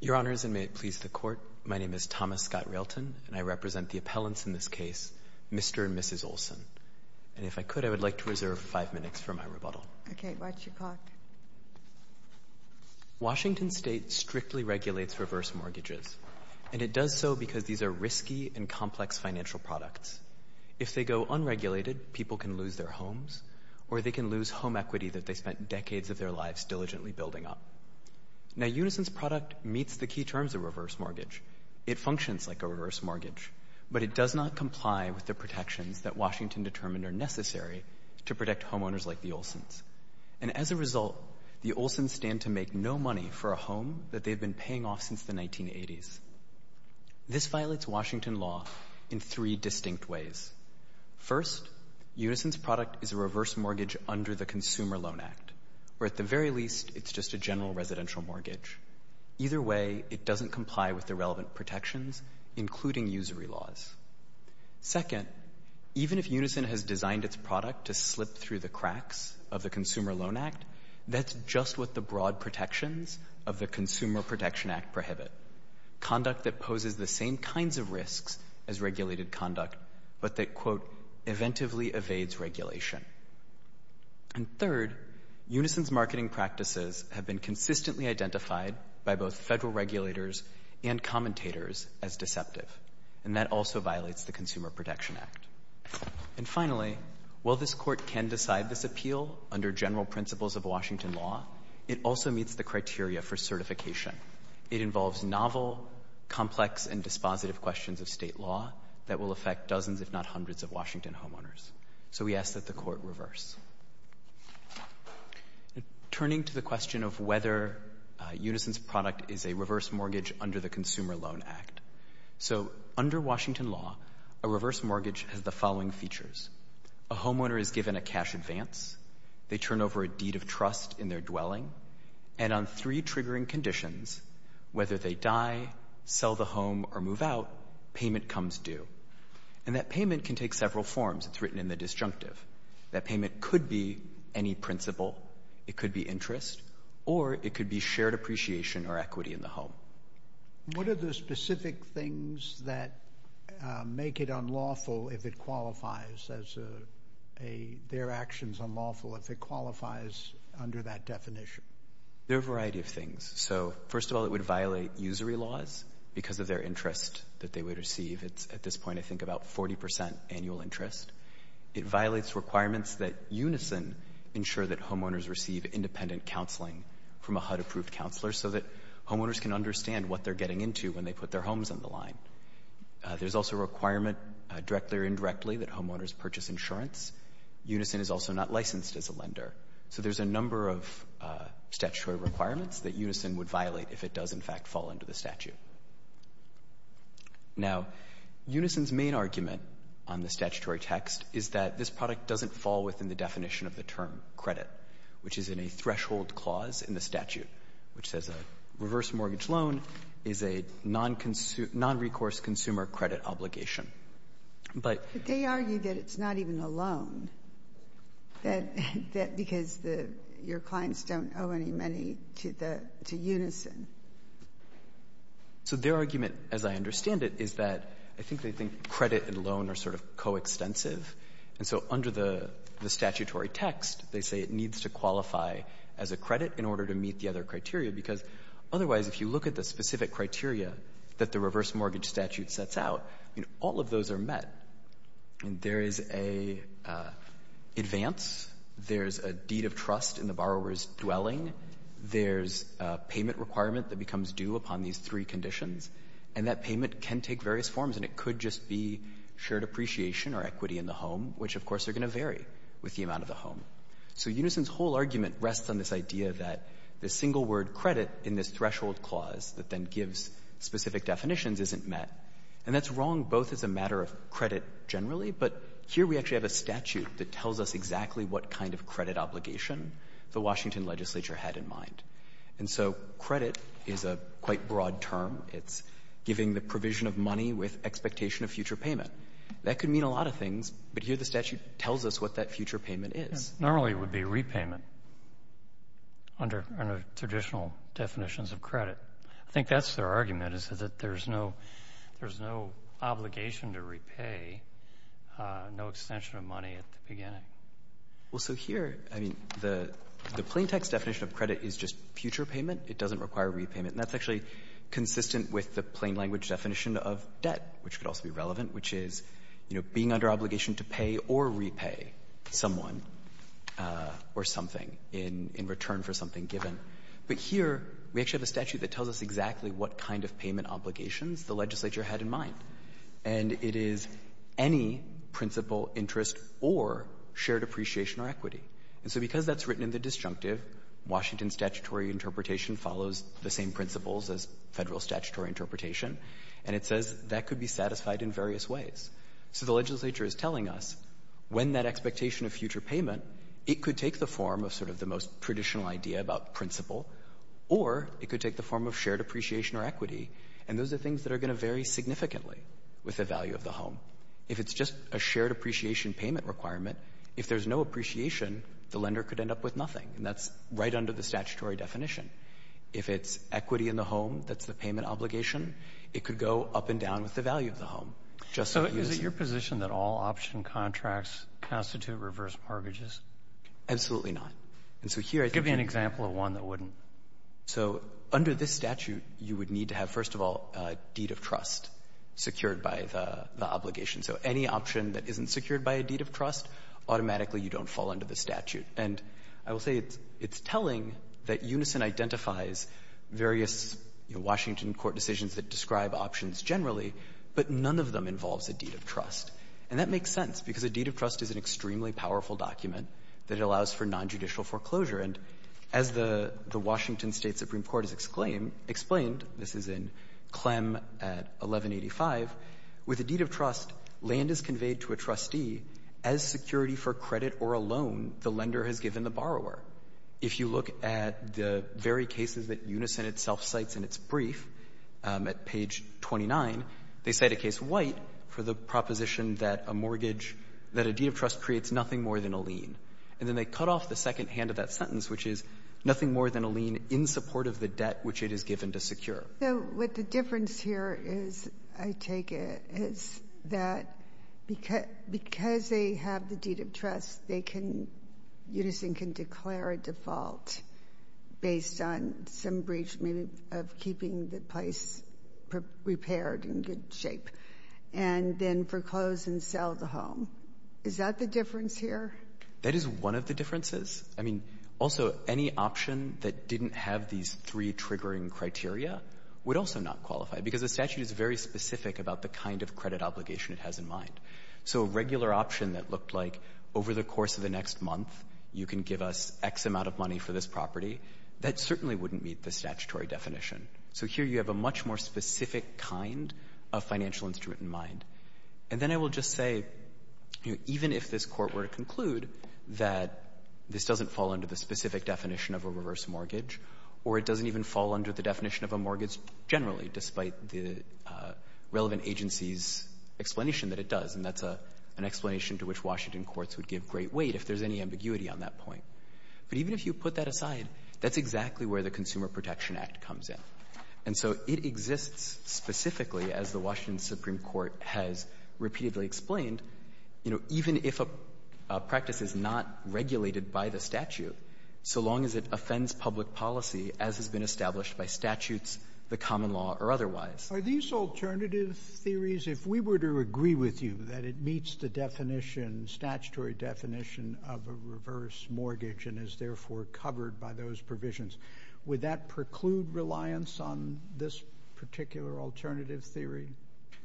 Your Honors, and may it please the Court, my name is Thomas Scott Railton, and I represent the appellants in this case, Mr. and Mrs. Olson. And if I could, I would like to reserve five minutes for my rebuttal. Okay, watch your clock. Washington State strictly regulates reverse mortgages, and it does so because these are risky and complex financial products. If they go unregulated, people can lose their homes, or they can lose home equity that they spent decades of their lives diligently building up. Now, Unison's product meets the key terms of reverse mortgage. It functions like a reverse mortgage, but it does not comply with the protections that Washington determined are necessary to protect homeowners like the Olsons. And as a result, the Olsons stand to make no money for a home that they've been paying off since the 1980s. This violates Washington law in three distinct ways. First, Unison's product is a reverse mortgage under the Consumer Loan Act, where at the very least it's just a general residential mortgage. Either way, it doesn't comply with the relevant protections, including usury laws. Second, even if Unison has designed its product to slip through the cracks of the Consumer Loan Act, that's just what the broad protections of the Consumer Protection Act prohibit, conduct that poses the same kinds of risks as regulated conduct, but that, quote, eventually evades regulation. And third, Unison's marketing practices have been consistently identified by both Federal regulators and commentators as deceptive, and that also violates the Consumer Protection Act. And finally, while this Court can decide this appeal under general principles of Washington law, it also meets the criteria for certification. It involves novel, complex, and dispositive questions of State law that will affect dozens, if not hundreds, of Washington homeowners. So we ask that the Court reverse. Turning to the question of whether Unison's product is a reverse mortgage under the Consumer Loan Act. So under Washington law, a reverse mortgage has the following features. A homeowner is given a cash advance. They turn over a deed of trust in their dwelling. And on three triggering conditions, whether they die, sell the home, or move out, payment comes due. And that payment can take several forms. It's written in the disjunctive. That payment could be any principle. It could be interest. Or it could be shared appreciation or equity in the home. What are the specific things that make it unlawful if it qualifies as a— their actions unlawful if it qualifies under that definition? There are a variety of things. So, first of all, it would violate usury laws because of their interest that they would receive. It's at this point, I think, about 40 percent annual interest. It violates requirements that Unison ensure that homeowners receive independent counseling from a HUD-approved counselor so that homeowners can understand what they're getting into when they put their homes on the line. There's also a requirement, directly or indirectly, that homeowners purchase insurance. Unison is also not licensed as a lender. So there's a number of statutory requirements that Unison would violate if it does, in fact, fall under the statute. Now, Unison's main argument on the statutory text is that this product doesn't fall within the definition of the term credit, which is in a threshold clause in the statute, which says a reverse mortgage loan is a non-recourse consumer credit obligation. But— But they argue that it's not even a loan, that because the — your clients don't So their argument, as I understand it, is that I think they think credit and loan are sort of coextensive. And so under the statutory text, they say it needs to qualify as a credit in order to meet the other criteria, because otherwise, if you look at the specific criteria that the reverse mortgage statute sets out, all of those are met. There is an advance. There's a deed of trust in the borrower's dwelling. There's a payment requirement that becomes due upon these three conditions. And that payment can take various forms, and it could just be shared appreciation or equity in the home, which, of course, are going to vary with the amount of the home. So Unison's whole argument rests on this idea that the single-word credit in this threshold clause that then gives specific definitions isn't met. And that's wrong both as a matter of credit generally, but here we actually have a statute that tells us exactly what kind of credit obligation the Washington legislature had in mind. And so credit is a quite broad term. It's giving the provision of money with expectation of future payment. That could mean a lot of things, but here the statute tells us what that future payment is. Normally, it would be repayment under traditional definitions of credit. I think that's their argument, is that there's no — there's no obligation to repay, no extension of money at the beginning. Well, so here, I mean, the plain-text definition of credit is just future payment. It doesn't require repayment. And that's actually consistent with the plain-language definition of debt, which could also be relevant, which is, you know, being under obligation to pay or repay someone or something in return for something given. But here we actually have a statute that tells us exactly what kind of payment obligations the legislature had in mind, and it is any principal interest or shared appreciation or equity. And so because that's written in the disjunctive, Washington's statutory interpretation follows the same principles as Federal statutory interpretation, and it says that could be satisfied in various ways. So the legislature is telling us when that expectation of future payment, it could take the form of sort of the most traditional idea about principal, or it could take the form of shared appreciation or equity. And those are things that are going to vary significantly with the value of the home. If it's just a shared appreciation payment requirement, if there's no appreciation, the lender could end up with nothing, and that's right under the statutory definition. If it's equity in the home, that's the payment obligation, it could go up and down with the value of the home. So is it your position that all option contracts constitute reverse mortgages? Absolutely not. And so here — Give me an example of one that wouldn't. So under this statute, you would need to have, first of all, a deed of trust secured by the obligation. So any option that isn't secured by a deed of trust, automatically you don't fall under the statute. And I will say it's telling that Unison identifies various Washington court decisions that describe options generally, but none of them involves a deed of trust. And that makes sense, because a deed of trust is an extremely Supreme Court has explained, this is in Clem at 1185, with a deed of trust, land is conveyed to a trustee as security for credit or a loan the lender has given the borrower. If you look at the very cases that Unison itself cites in its brief at page 29, they cite a case White for the proposition that a mortgage, that a deed of trust creates nothing more than a lien. And then they cut off the second hand of that sentence, which is nothing more than a lien in support of the debt which it is given to secure. So what the difference here is, I take it, is that because they have the deed of trust, they can — Unison can declare a default based on some breach, maybe of keeping the place repaired in good shape, and then foreclose and sell the home. Is that the difference here? That is one of the differences. I mean, also, any option that didn't have these three triggering criteria would also not qualify, because the statute is very specific about the kind of credit obligation it has in mind. So a regular option that looked like over the course of the next month you can give us X amount of money for this property, that certainly wouldn't meet the statutory definition. So here you have a much more specific kind of financial instrument in mind. And then I will just say, even if this Court were to conclude that this doesn't fall under the specific definition of a reverse mortgage, or it doesn't even fall under the definition of a mortgage generally, despite the relevant agency's explanation that it does, and that's an explanation to which Washington courts would give great weight if there's any ambiguity on that point. But even if you put that aside, that's exactly where the Consumer Protection Act comes in. And so it exists specifically, as the Washington Supreme Court has repeatedly explained, you know, even if a practice is not regulated by the statute, so long as it offends public policy as has been established by statutes, the common law, or otherwise. Sotomayor, are these alternative theories? If we were to agree with you that it meets the definition, statutory definition of a reverse mortgage and is therefore covered by those provisions, would that preclude reliance on this particular alternative theory?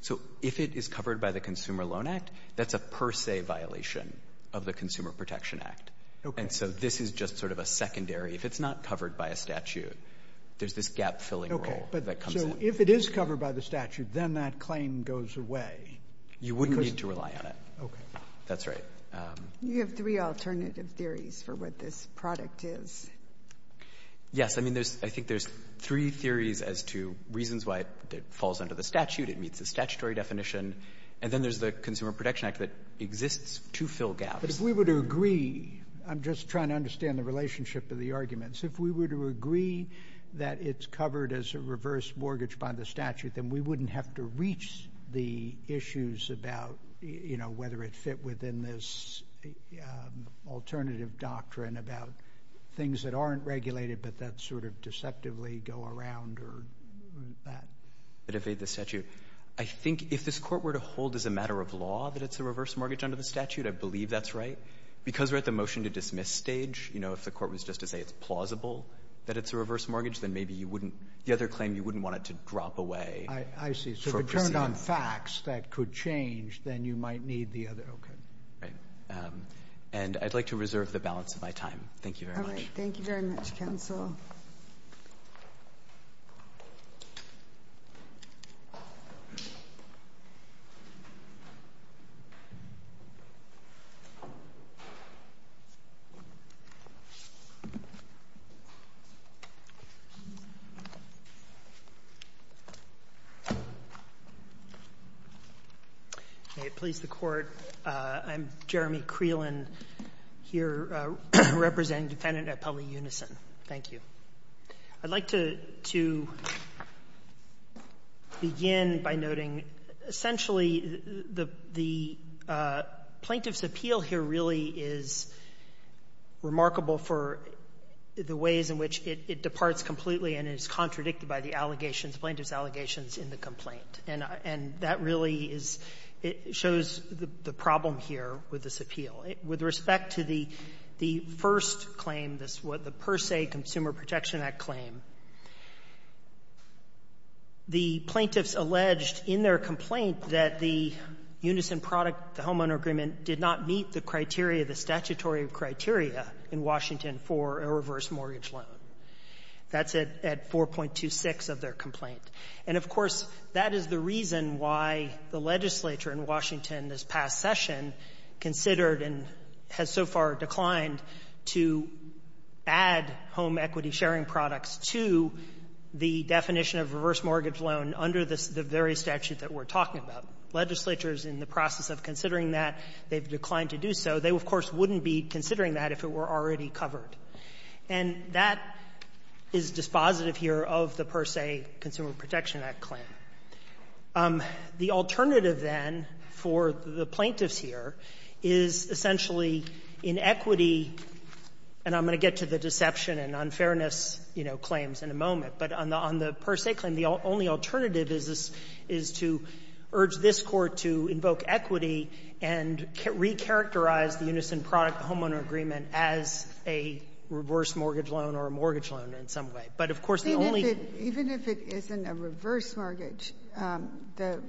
So if it is covered by the Consumer Loan Act, that's a per se violation of the Consumer Protection Act. Okay. And so this is just sort of a secondary. If it's not covered by a statute, there's this gap-filling rule that comes in. Okay. So if it is covered by the statute, then that claim goes away. You wouldn't need to rely on it. Okay. That's right. You have three alternative theories for what this product is. Yes. I mean, there's — I think there's three theories as to reasons why it falls under the statute, it meets the statutory definition, and then there's the Consumer Protection Act that exists to fill gaps. But if we were to agree — I'm just trying to understand the relationship of the arguments. If we were to agree that it's covered as a reverse mortgage under the statute, then we wouldn't have to reach the issues about, you know, whether it fit within this alternative doctrine about things that aren't regulated, but that sort of deceptively go around or that. But if the statute — I think if this Court were to hold as a matter of law that it's a reverse mortgage under the statute, I believe that's right. Because we're at the motion-to-dismiss stage, you know, if the Court was just to say it's plausible that it's a reverse mortgage, then maybe you wouldn't — the other claim, you wouldn't want it to drop away. I see. So if it turned on facts that could change, then you might need the other — okay. Right. And I'd like to reserve the balance of my time. Thank you very much. All right. Thank you very much, counsel. May it please the Court. I'm Jeremy Creelan here, representing Defendant Appelli Unison. Thank you. I'd like to — to begin by noting, essentially, the — the plaintiff's appeal here really is remarkable for the ways in which it — it departs completely and is contradicted by the allegations, the plaintiff's allegations in the complaint. And that really is — shows the problem here with this appeal. With respect to the first claim, the Per Se Consumer Protection Act claim, the plaintiffs alleged in their complaint that the Unison product, the homeowner agreement, did not meet the criteria, the statutory criteria in Washington for a reverse mortgage loan. That's at — at 4.26 of their complaint. And, of course, that is the reason why the legislature in Washington this past session considered and has so far declined to add home equity-sharing products to the definition of reverse mortgage loan under the various statutes that we're talking about. Legislature is in the process of considering that. They've declined to do so. They, of course, wouldn't be considering that if it were already covered. And that is dispositive here of the Per Se Consumer Protection Act claim. The alternative, then, for the plaintiffs here is essentially inequity, and I'm going to get to the deception and unfairness, you know, claims in a moment. But on the Per Se claim, the only alternative is to urge this Court to invoke equity and recharacterize the Unison product, the homeowner agreement, as a reverse mortgage loan or a mortgage loan in some way. But, of course, the only — Even if it isn't a reverse mortgage, the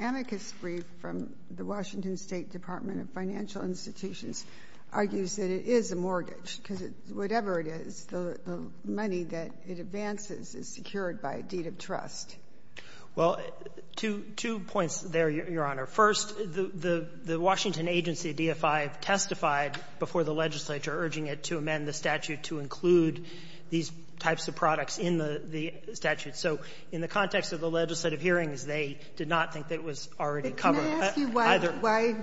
amicus brief from the Washington State Department of Financial Institutions argues that it is a mortgage, because whatever it is, the money that it advances is secured by a deed of trust. Well, two — two points there, Your Honor. First, the Washington agency, DFI, testified before the legislature urging it to amend the statute to include these types of products in the statute. So in the context of the legislative hearings, they did not think that it was already covered. I want to ask you why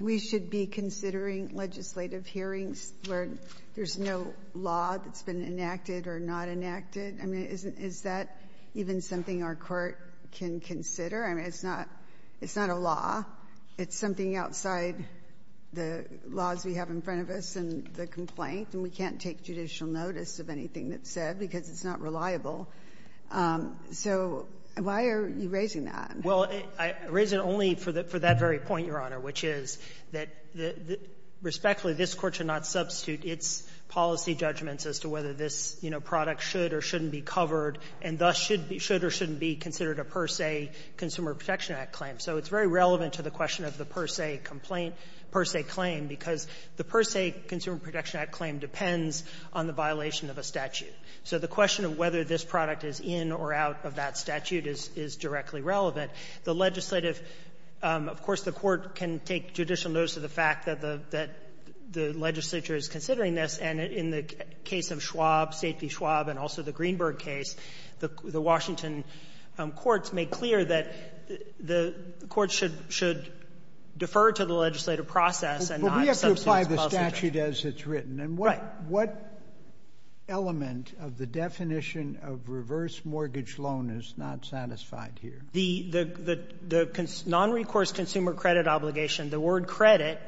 we should be considering legislative hearings where there's no law that's been enacted or not enacted. I mean, is that even something our Court can consider? I mean, it's not — it's not a law. It's something outside the laws we have in front of us in the complaint, and we can't take judicial notice of anything that's said because it's not reliable. So why are you raising that? Well, I raise it only for the — for that very point, Your Honor, which is that respectfully, this Court should not substitute its policy judgments as to whether this, you know, product should or shouldn't be covered, and thus should be — should or shouldn't be considered a per se Consumer Protection Act claim. So it's very relevant to the question of the per se complaint — per se claim, because the per se Consumer Protection Act claim depends on the violation of a statute. So the question of whether this product is in or out of that statute is directly relevant. The legislative — of course, the Court can take judicial notice of the fact that the — that the legislature is considering this. And in the case of Schwab, Safety Schwab, and also the Greenberg case, the Washington courts made clear that the courts should — should defer to the legislative process and not substitute its policy judgment. The statute as it's written. Right. And what — what element of the definition of reverse mortgage loan is not satisfied here? The — the nonrecourse consumer credit obligation, the word credit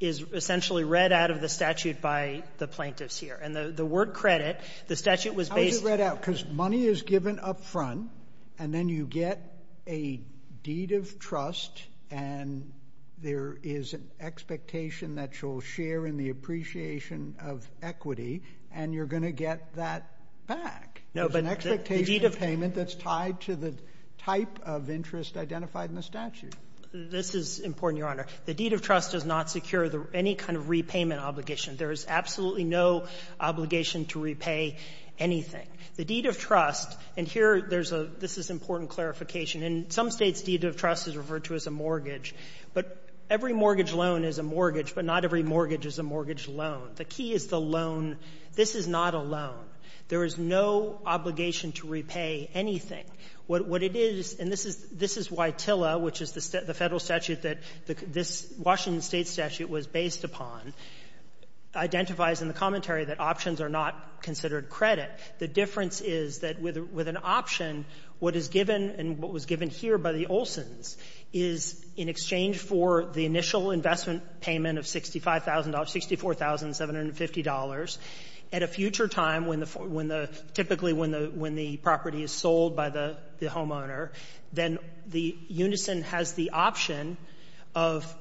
is essentially read out of the statute by the plaintiffs here. And the word credit, the statute was based — How is it read out? Because money is given up front, and then you get a deed of trust, and there is an expectation that you'll share in the appreciation of equity, and you're going to get that back. No, but the deed of — There's an expectation of payment that's tied to the type of interest identified in the statute. This is important, Your Honor. The deed of trust does not secure the — any kind of repayment obligation. There is absolutely no obligation to repay anything. The deed of trust — and here there's a — this is important clarification. In some States, deed of trust is referred to as a mortgage. But every mortgage loan is a mortgage, but not every mortgage is a mortgage loan. The key is the loan. This is not a loan. There is no obligation to repay anything. What — what it is, and this is — this is why TILA, which is the Federal statute that this Washington State statute was based upon, identifies in the commentary that options are not considered credit. The difference is that with an option, what is given and what was given here by the Olsons is, in exchange for the initial investment payment of $65,000 — $64,750, at a future time when the — when the — typically when the — when the property is sold by the — the homeowner, then the unison has the option of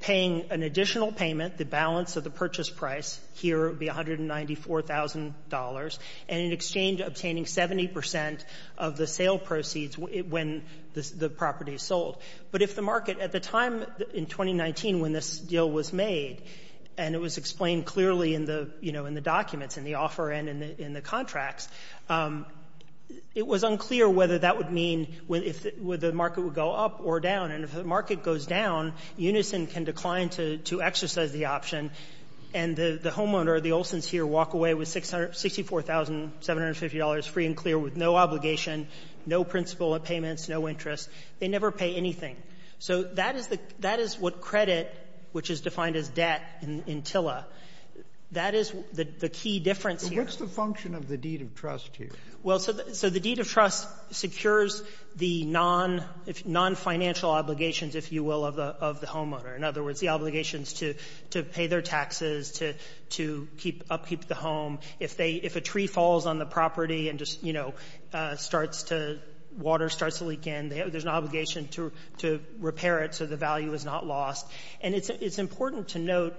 paying an additional payment, the balance of the purchase price. Here it would be $194,000. And in exchange, obtaining 70 percent of the sale proceeds when the property is sold. But if the market — at the time in 2019 when this deal was made, and it was explained clearly in the — you know, in the documents, in the offer and in the contracts, it was unclear whether that would mean — whether the market would go up or down. And if the market goes down, unison can decline to — to exercise the option, and the — the homeowner, the Olsons here, walk away with $64,750 free and clear with no obligation, no principal at payments, no interest. They never pay anything. So that is the — that is what credit, which is defined as debt in — in TILA, that is the key difference here. Sotomayor, what's the function of the deed of trust here? Well, so the — so the deed of trust secures the non — nonfinancial obligations, if you will, of the — of the homeowner. In other words, the obligations to — to pay their taxes, to — to keep — upkeep the home. If they — if a tree falls on the property and just, you know, starts to — water starts to leak in, there's an obligation to — to repair it so the value is not lost. And it's — it's important to note,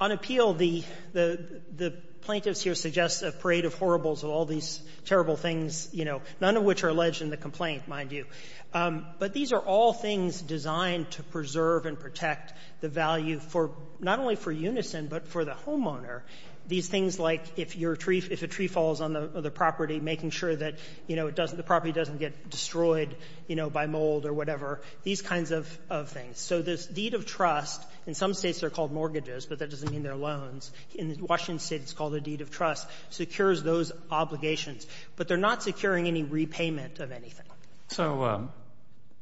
on appeal, the — the — the plaintiffs here suggest a parade of horribles of all these terrible things, you know, none of which are alleged in the complaint, mind you. But these are all things designed to preserve and protect the value for — not only for unison, but for the homeowner. These things like if your tree — if a tree falls on the property, making sure that, you know, it doesn't — the property doesn't get destroyed, you know, by mold or whatever, these kinds of — of things. So this deed of trust, in some States they're called mortgages, but that doesn't mean they're loans. In Washington State it's called a deed of trust, secures those obligations. But they're not securing any repayment of anything. So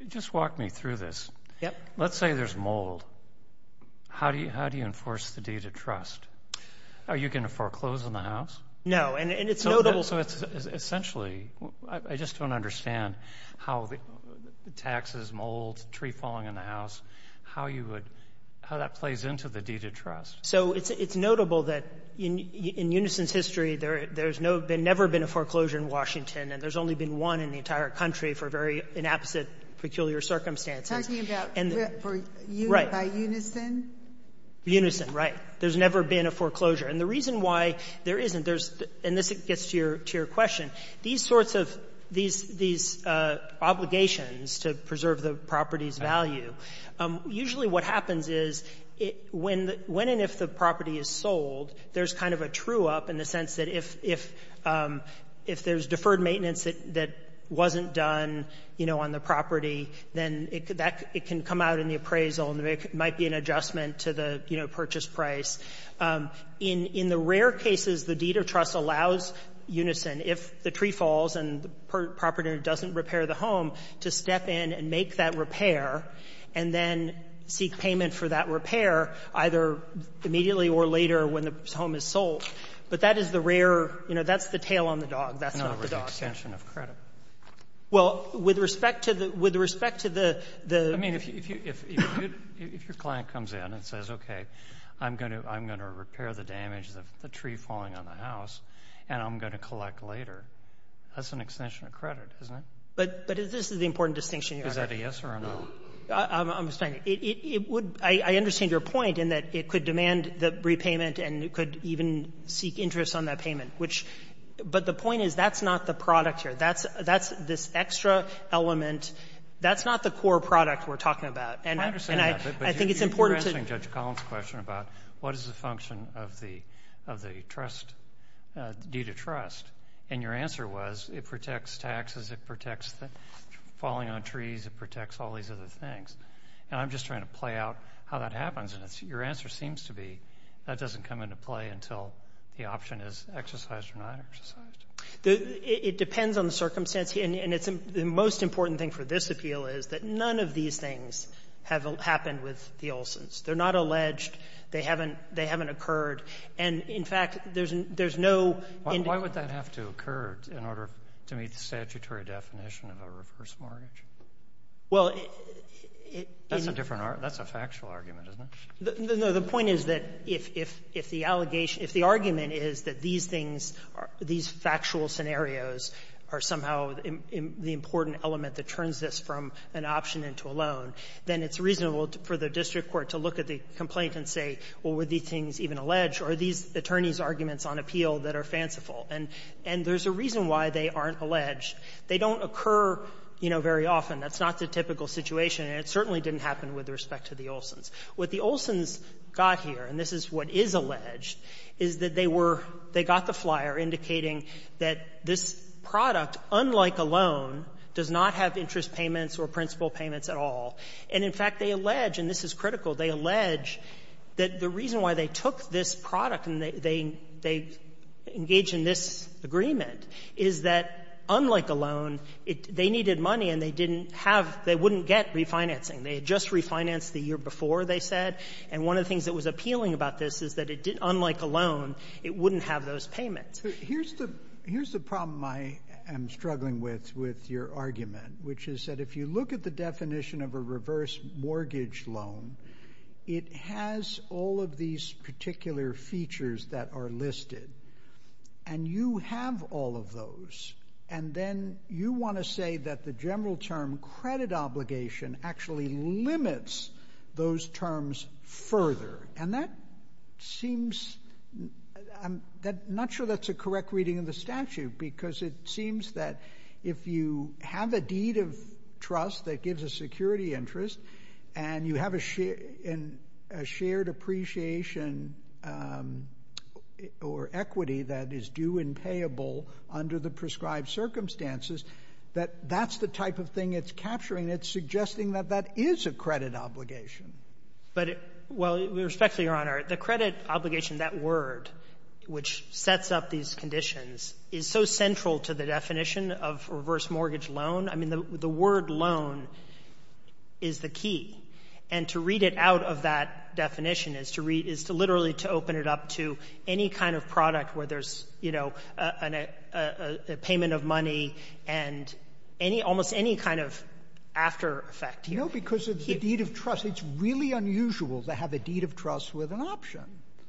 just walk me through this. Yep. Let's say there's mold. How do you — how do you enforce the deed of trust? Are you going to foreclose on the house? No. And it's notable — So it's essentially — I just don't understand how the taxes, mold, tree falling on the house, how you would — how that plays into the deed of trust. So it's notable that in unison's history, there's no — there's never been a foreclosure in Washington, and there's only been one in the entire country for very inapposite, peculiar circumstances. Talking about for un — by unison? Unison, right. There's never been a foreclosure. And the reason why there isn't, there's — and this gets to your — to your question. These sorts of — these obligations to preserve the property's value, usually what happens is, when the — when and if the property is sold, there's kind of a true-up in the sense that if — if there's deferred maintenance that wasn't done, you know, on the property, then that — it can come out in the appraisal, and there might be an adjustment to the, you know, purchase price. In the rare cases, the deed of trust allows unison, if the tree falls and the property owner doesn't repair the home, to step in and make that repair, and then seek payment for that repair, either immediately or later when the home is sold. But that is the rare — you know, that's the tail on the dog. That's not the dog. No, with the extension of credit. Well, with respect to the — with respect to the — I mean, if you — if your client comes in and says, okay, I'm going to — I'm going to repair the damage of the tree falling on the house, and I'm going to collect later, that's an extension of credit, isn't it? But — but this is the important distinction you're making. Is that a yes or a no? I'm — I'm just trying to — it would — I understand your point in that it could demand the repayment, and it could even seek interest on that payment, which — but the point is, that's not the product here. That's — that's this extra element. That's not the core product we're talking about. And I — and I think it's important to — I understand that, but you're answering Judge Collins' question about what is the function of the — of the trust — deed of trust. And your answer was, it protects taxes, it protects the falling-on-trees, it protects all these other things. And I'm just trying to play out how that happens. And it's — your answer seems to be, that doesn't come into play until the option is exercised or not exercised. The — it depends on the circumstance. And it's — the most important thing for this appeal is that none of these things have happened with the Olsons. They're not alleged. They haven't — they haven't occurred. And, in fact, there's no — Why would that have to occur in order to meet the statutory definition of a reverse mortgage? Well, it — That's a different argument. That's a factual argument, isn't it? No. The point is that if — if the allegation — if the argument is that these things are — these factual scenarios are somehow the important element that turns this from an option into a loan, then it's reasonable for the district court to look at the complaint and say, well, were these things even alleged, or are these attorneys' arguments on appeal that are fanciful? And there's a reason why they aren't alleged. They don't occur, you know, very often. That's not the typical situation. And it certainly didn't happen with respect to the Olsons. What the Olsons got here, and this is what is alleged, is that they were — they got the flyer indicating that this product, unlike a loan, does not have interest payments or principal payments at all. And, in fact, they allege, and this is critical, they allege that the reason why they took this product and they — they engaged in this agreement is that, unlike a loan, it — they needed money and they didn't have — they wouldn't get refinancing. They had just refinanced the year before, they said. And one of the things that was appealing about this is that it — unlike a loan, it wouldn't have those payments. Here's the — here's the problem I am struggling with, with your argument, which is that if you look at the definition of a reverse mortgage loan, it has all of these particular features that are listed. And you have all of those. And then you want to say that the general term, credit obligation, actually limits those terms further. And that seems — I'm not sure that's a correct reading of the statute, because it seems that if you have a deed of trust that gives a security interest and you have a shared — a shared appreciation or equity that is due and payable under the prescribed circumstances, that that's the type of thing it's capturing. It's suggesting that that is a credit obligation. But — well, respectfully, Your Honor, the credit obligation, that word, which sets up these conditions, is so central to the definition of reverse mortgage loan. I mean, the word loan is the key. And to read it out of that definition is to read — is to literally to open it up to any kind of product where there's, you know, a payment of money and any — almost any kind of after effect. You know, because of the deed of trust, it's really unusual to have a deed of trust with an option.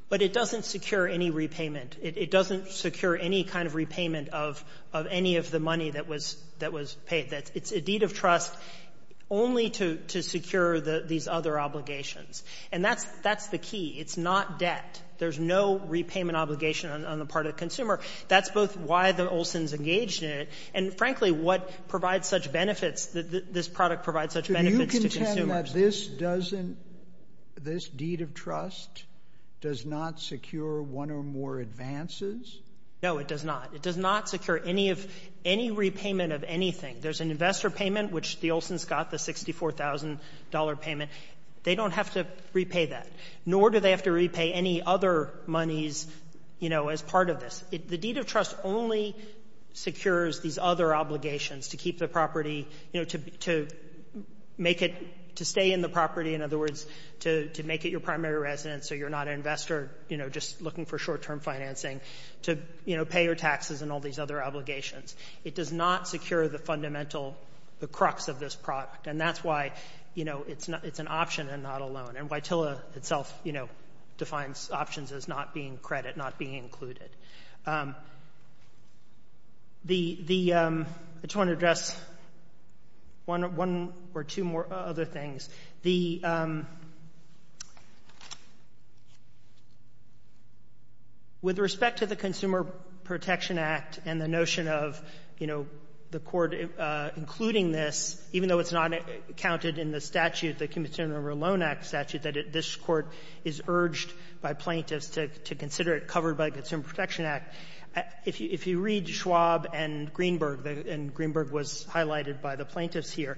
But it doesn't secure any repayment. It doesn't secure any kind of repayment of any of the money that was — that was paid. It's a deed of trust only to secure these other obligations. And that's the key. It's not debt. There's no repayment obligation on the part of the consumer. That's both why the Olson's engaged in it and, frankly, what provides such benefits that this product provides such benefits to consumers. But this doesn't — this deed of trust does not secure one or more advances? No, it does not. It does not secure any of — any repayment of anything. There's an investor payment, which the Olson's got, the $64,000 payment. They don't have to repay that, nor do they have to repay any other monies, you know, as part of this. The deed of trust only secures these other obligations to keep the property, you know, to make it — to stay in the property. In other words, to make it your primary residence so you're not an investor, you know, just looking for short-term financing, to, you know, pay your taxes and all these other obligations. It does not secure the fundamental — the crux of this product. And that's why, you know, it's not — it's an option and not a loan. And Waitila itself, you know, defines options as not being credit, not being included. The — I just want to address one or two more other things. The — with respect to the Consumer Protection Act and the notion of, you know, the Court including this, even though it's not counted in the statute, the Consumer Loan Act statute, that this Court is urged by plaintiffs to consider it covered by the Consumer Protection Act, if you read Schwab and Greenberg, and Greenberg was highlighted by the plaintiffs here,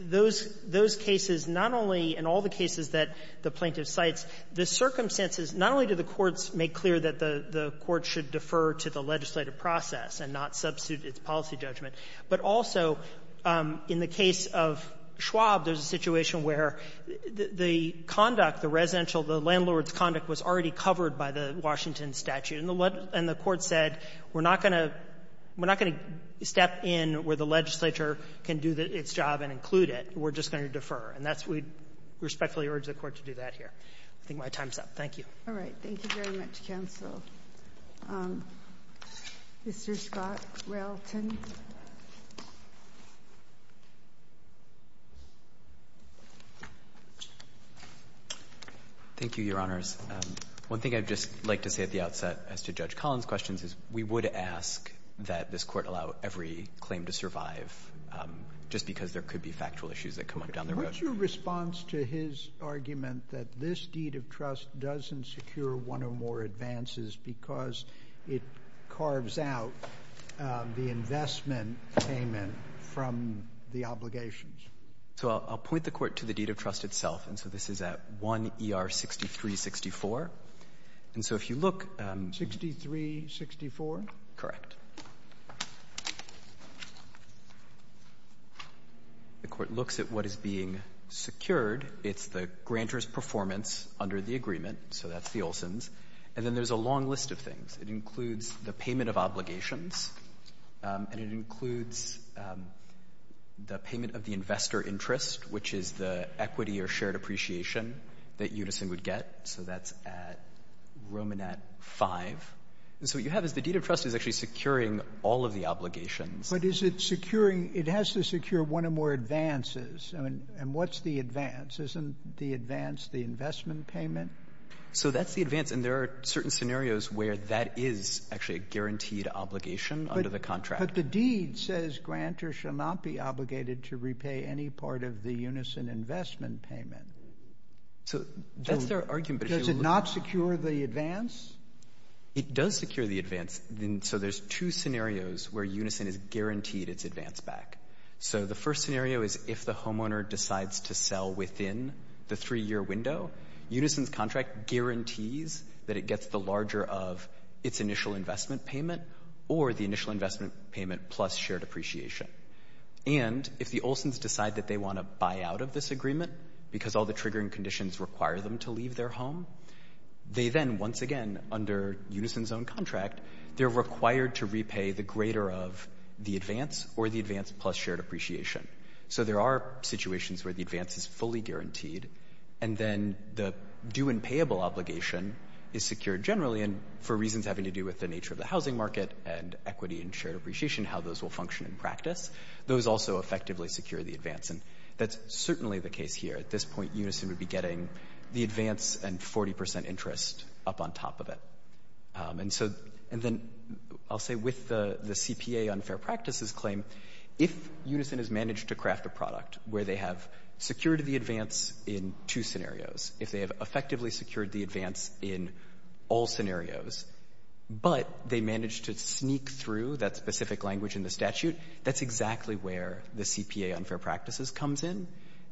those cases, not only in all the cases that the plaintiff cites, the circumstances, not only do the courts make clear that the court should defer to the legislative process and not substitute its policy judgment, but also in the case of Schwab, there's a situation where the conduct, the residential the landlord's conduct was already covered by the Washington statute. And the — and the Court said, we're not going to — we're not going to step in where the legislature can do its job and include it. We're just going to defer. And that's what we respectfully urge the Court to do that here. I think my time's up. Thank you. All right. Thank you very much, counsel. Mr. Scott Relton. Thank you, Your Honors. One thing I'd just like to say at the outset as to Judge Collins' questions is we would ask that this Court allow every claim to survive just because there could be factual issues that come up down the road. What's your response to his argument that this deed of trust doesn't secure one or more advances because it carves out the investment payment from the obligations? So I'll point the Court to the deed of trust itself. And so this is at 1 E.R. 6364. And so if you look — 6364? Correct. The Court looks at what is being secured. It's the grantor's performance under the agreement, so that's the Olson's. And then there's a long list of things. It includes the payment of obligations, and it includes the payment of the investor interest, which is the equity or shared appreciation that Unison would get. So that's at Romanat 5. And so what you have is the deed of trust is actually securing all of the obligations. But is it securing — it has to secure one or more advances. And what's the advance? Isn't the advance the investment payment? So that's the advance. And there are certain scenarios where that is actually a guaranteed obligation under the contract. But the deed says grantor shall not be obligated to repay any part of the Unison investment payment. So that's their argument. Does it not secure the advance? It does secure the advance. So there's two scenarios where Unison is guaranteed its advance back. So the first scenario is if the homeowner decides to sell within the 3-year window, Unison's contract guarantees that it gets the larger of its initial investment payment or the initial investment payment plus shared appreciation. And if the Olsons decide that they want to buy out of this agreement because all the conditions require them to leave their home, they then, once again, under Unison's own contract, they're required to repay the greater of the advance or the advance plus shared appreciation. So there are situations where the advance is fully guaranteed. And then the due and payable obligation is secured generally. And for reasons having to do with the nature of the housing market and equity and shared appreciation, how those will function in practice, those also effectively secure the advance. And that's certainly the case here. At this point, Unison would be getting the advance and 40 percent interest up on top of it. And so — and then I'll say with the CPA unfair practices claim, if Unison has managed to craft a product where they have secured the advance in two scenarios, if they have effectively secured the advance in all scenarios, but they managed to sneak through that specific language in the statute, that's exactly where the CPA unfair practices comes in.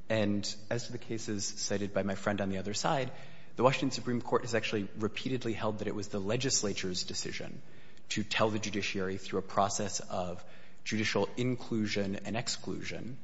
And as to the cases cited by my friend on the other side, the Washington Supreme Court has actually repeatedly held that it was the legislature's decision to tell the judiciary through a process of judicial inclusion and exclusion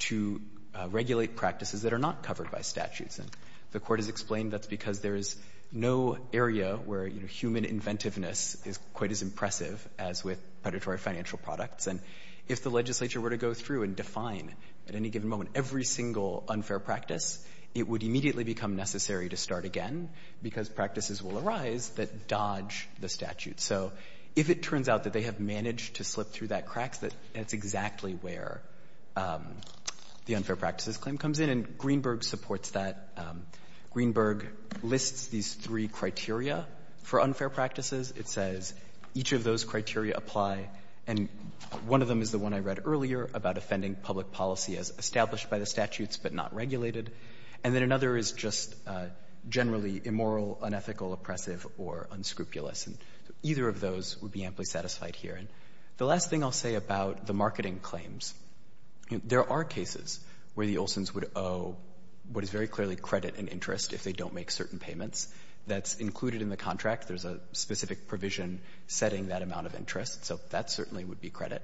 to regulate practices that are not covered by statutes. And the Court has explained that's because there is no area where, you know, human inventiveness is quite as impressive as with predatory financial products. And if the legislature were to go through and define at any given moment every single unfair practice, it would immediately become necessary to start again because practices will arise that dodge the statute. So if it turns out that they have managed to slip through that crack, that's exactly where the unfair practices claim comes in, and Greenberg supports that. Greenberg lists these three criteria for unfair practices. It says each of those criteria apply, and one of them is the one I read earlier about offending public policy as established by the statutes but not regulated. And then another is just generally immoral, unethical, oppressive, or unscrupulous. And either of those would be amply satisfied here. And the last thing I'll say about the marketing claims, there are cases where the Olsons would owe what is very clearly credit and interest if they don't make certain payments. That's included in the contract. There's a specific provision setting that amount of interest. So that certainly would be credit.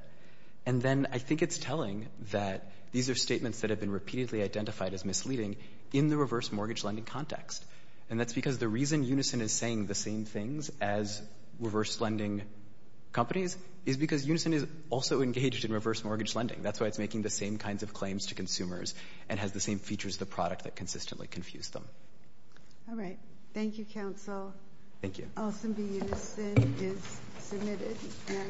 And then I think it's telling that these are statements that have been repeatedly identified as misleading in the reverse mortgage lending context. And that's because the reason Unison is saying the same things as reverse lending companies is because Unison is also engaged in reverse mortgage lending. That's why it's making the same kinds of claims to consumers and has the same features of the product that consistently confuse them. All right. Thank you, counsel. Thank you. Olson v. Unison is submitted.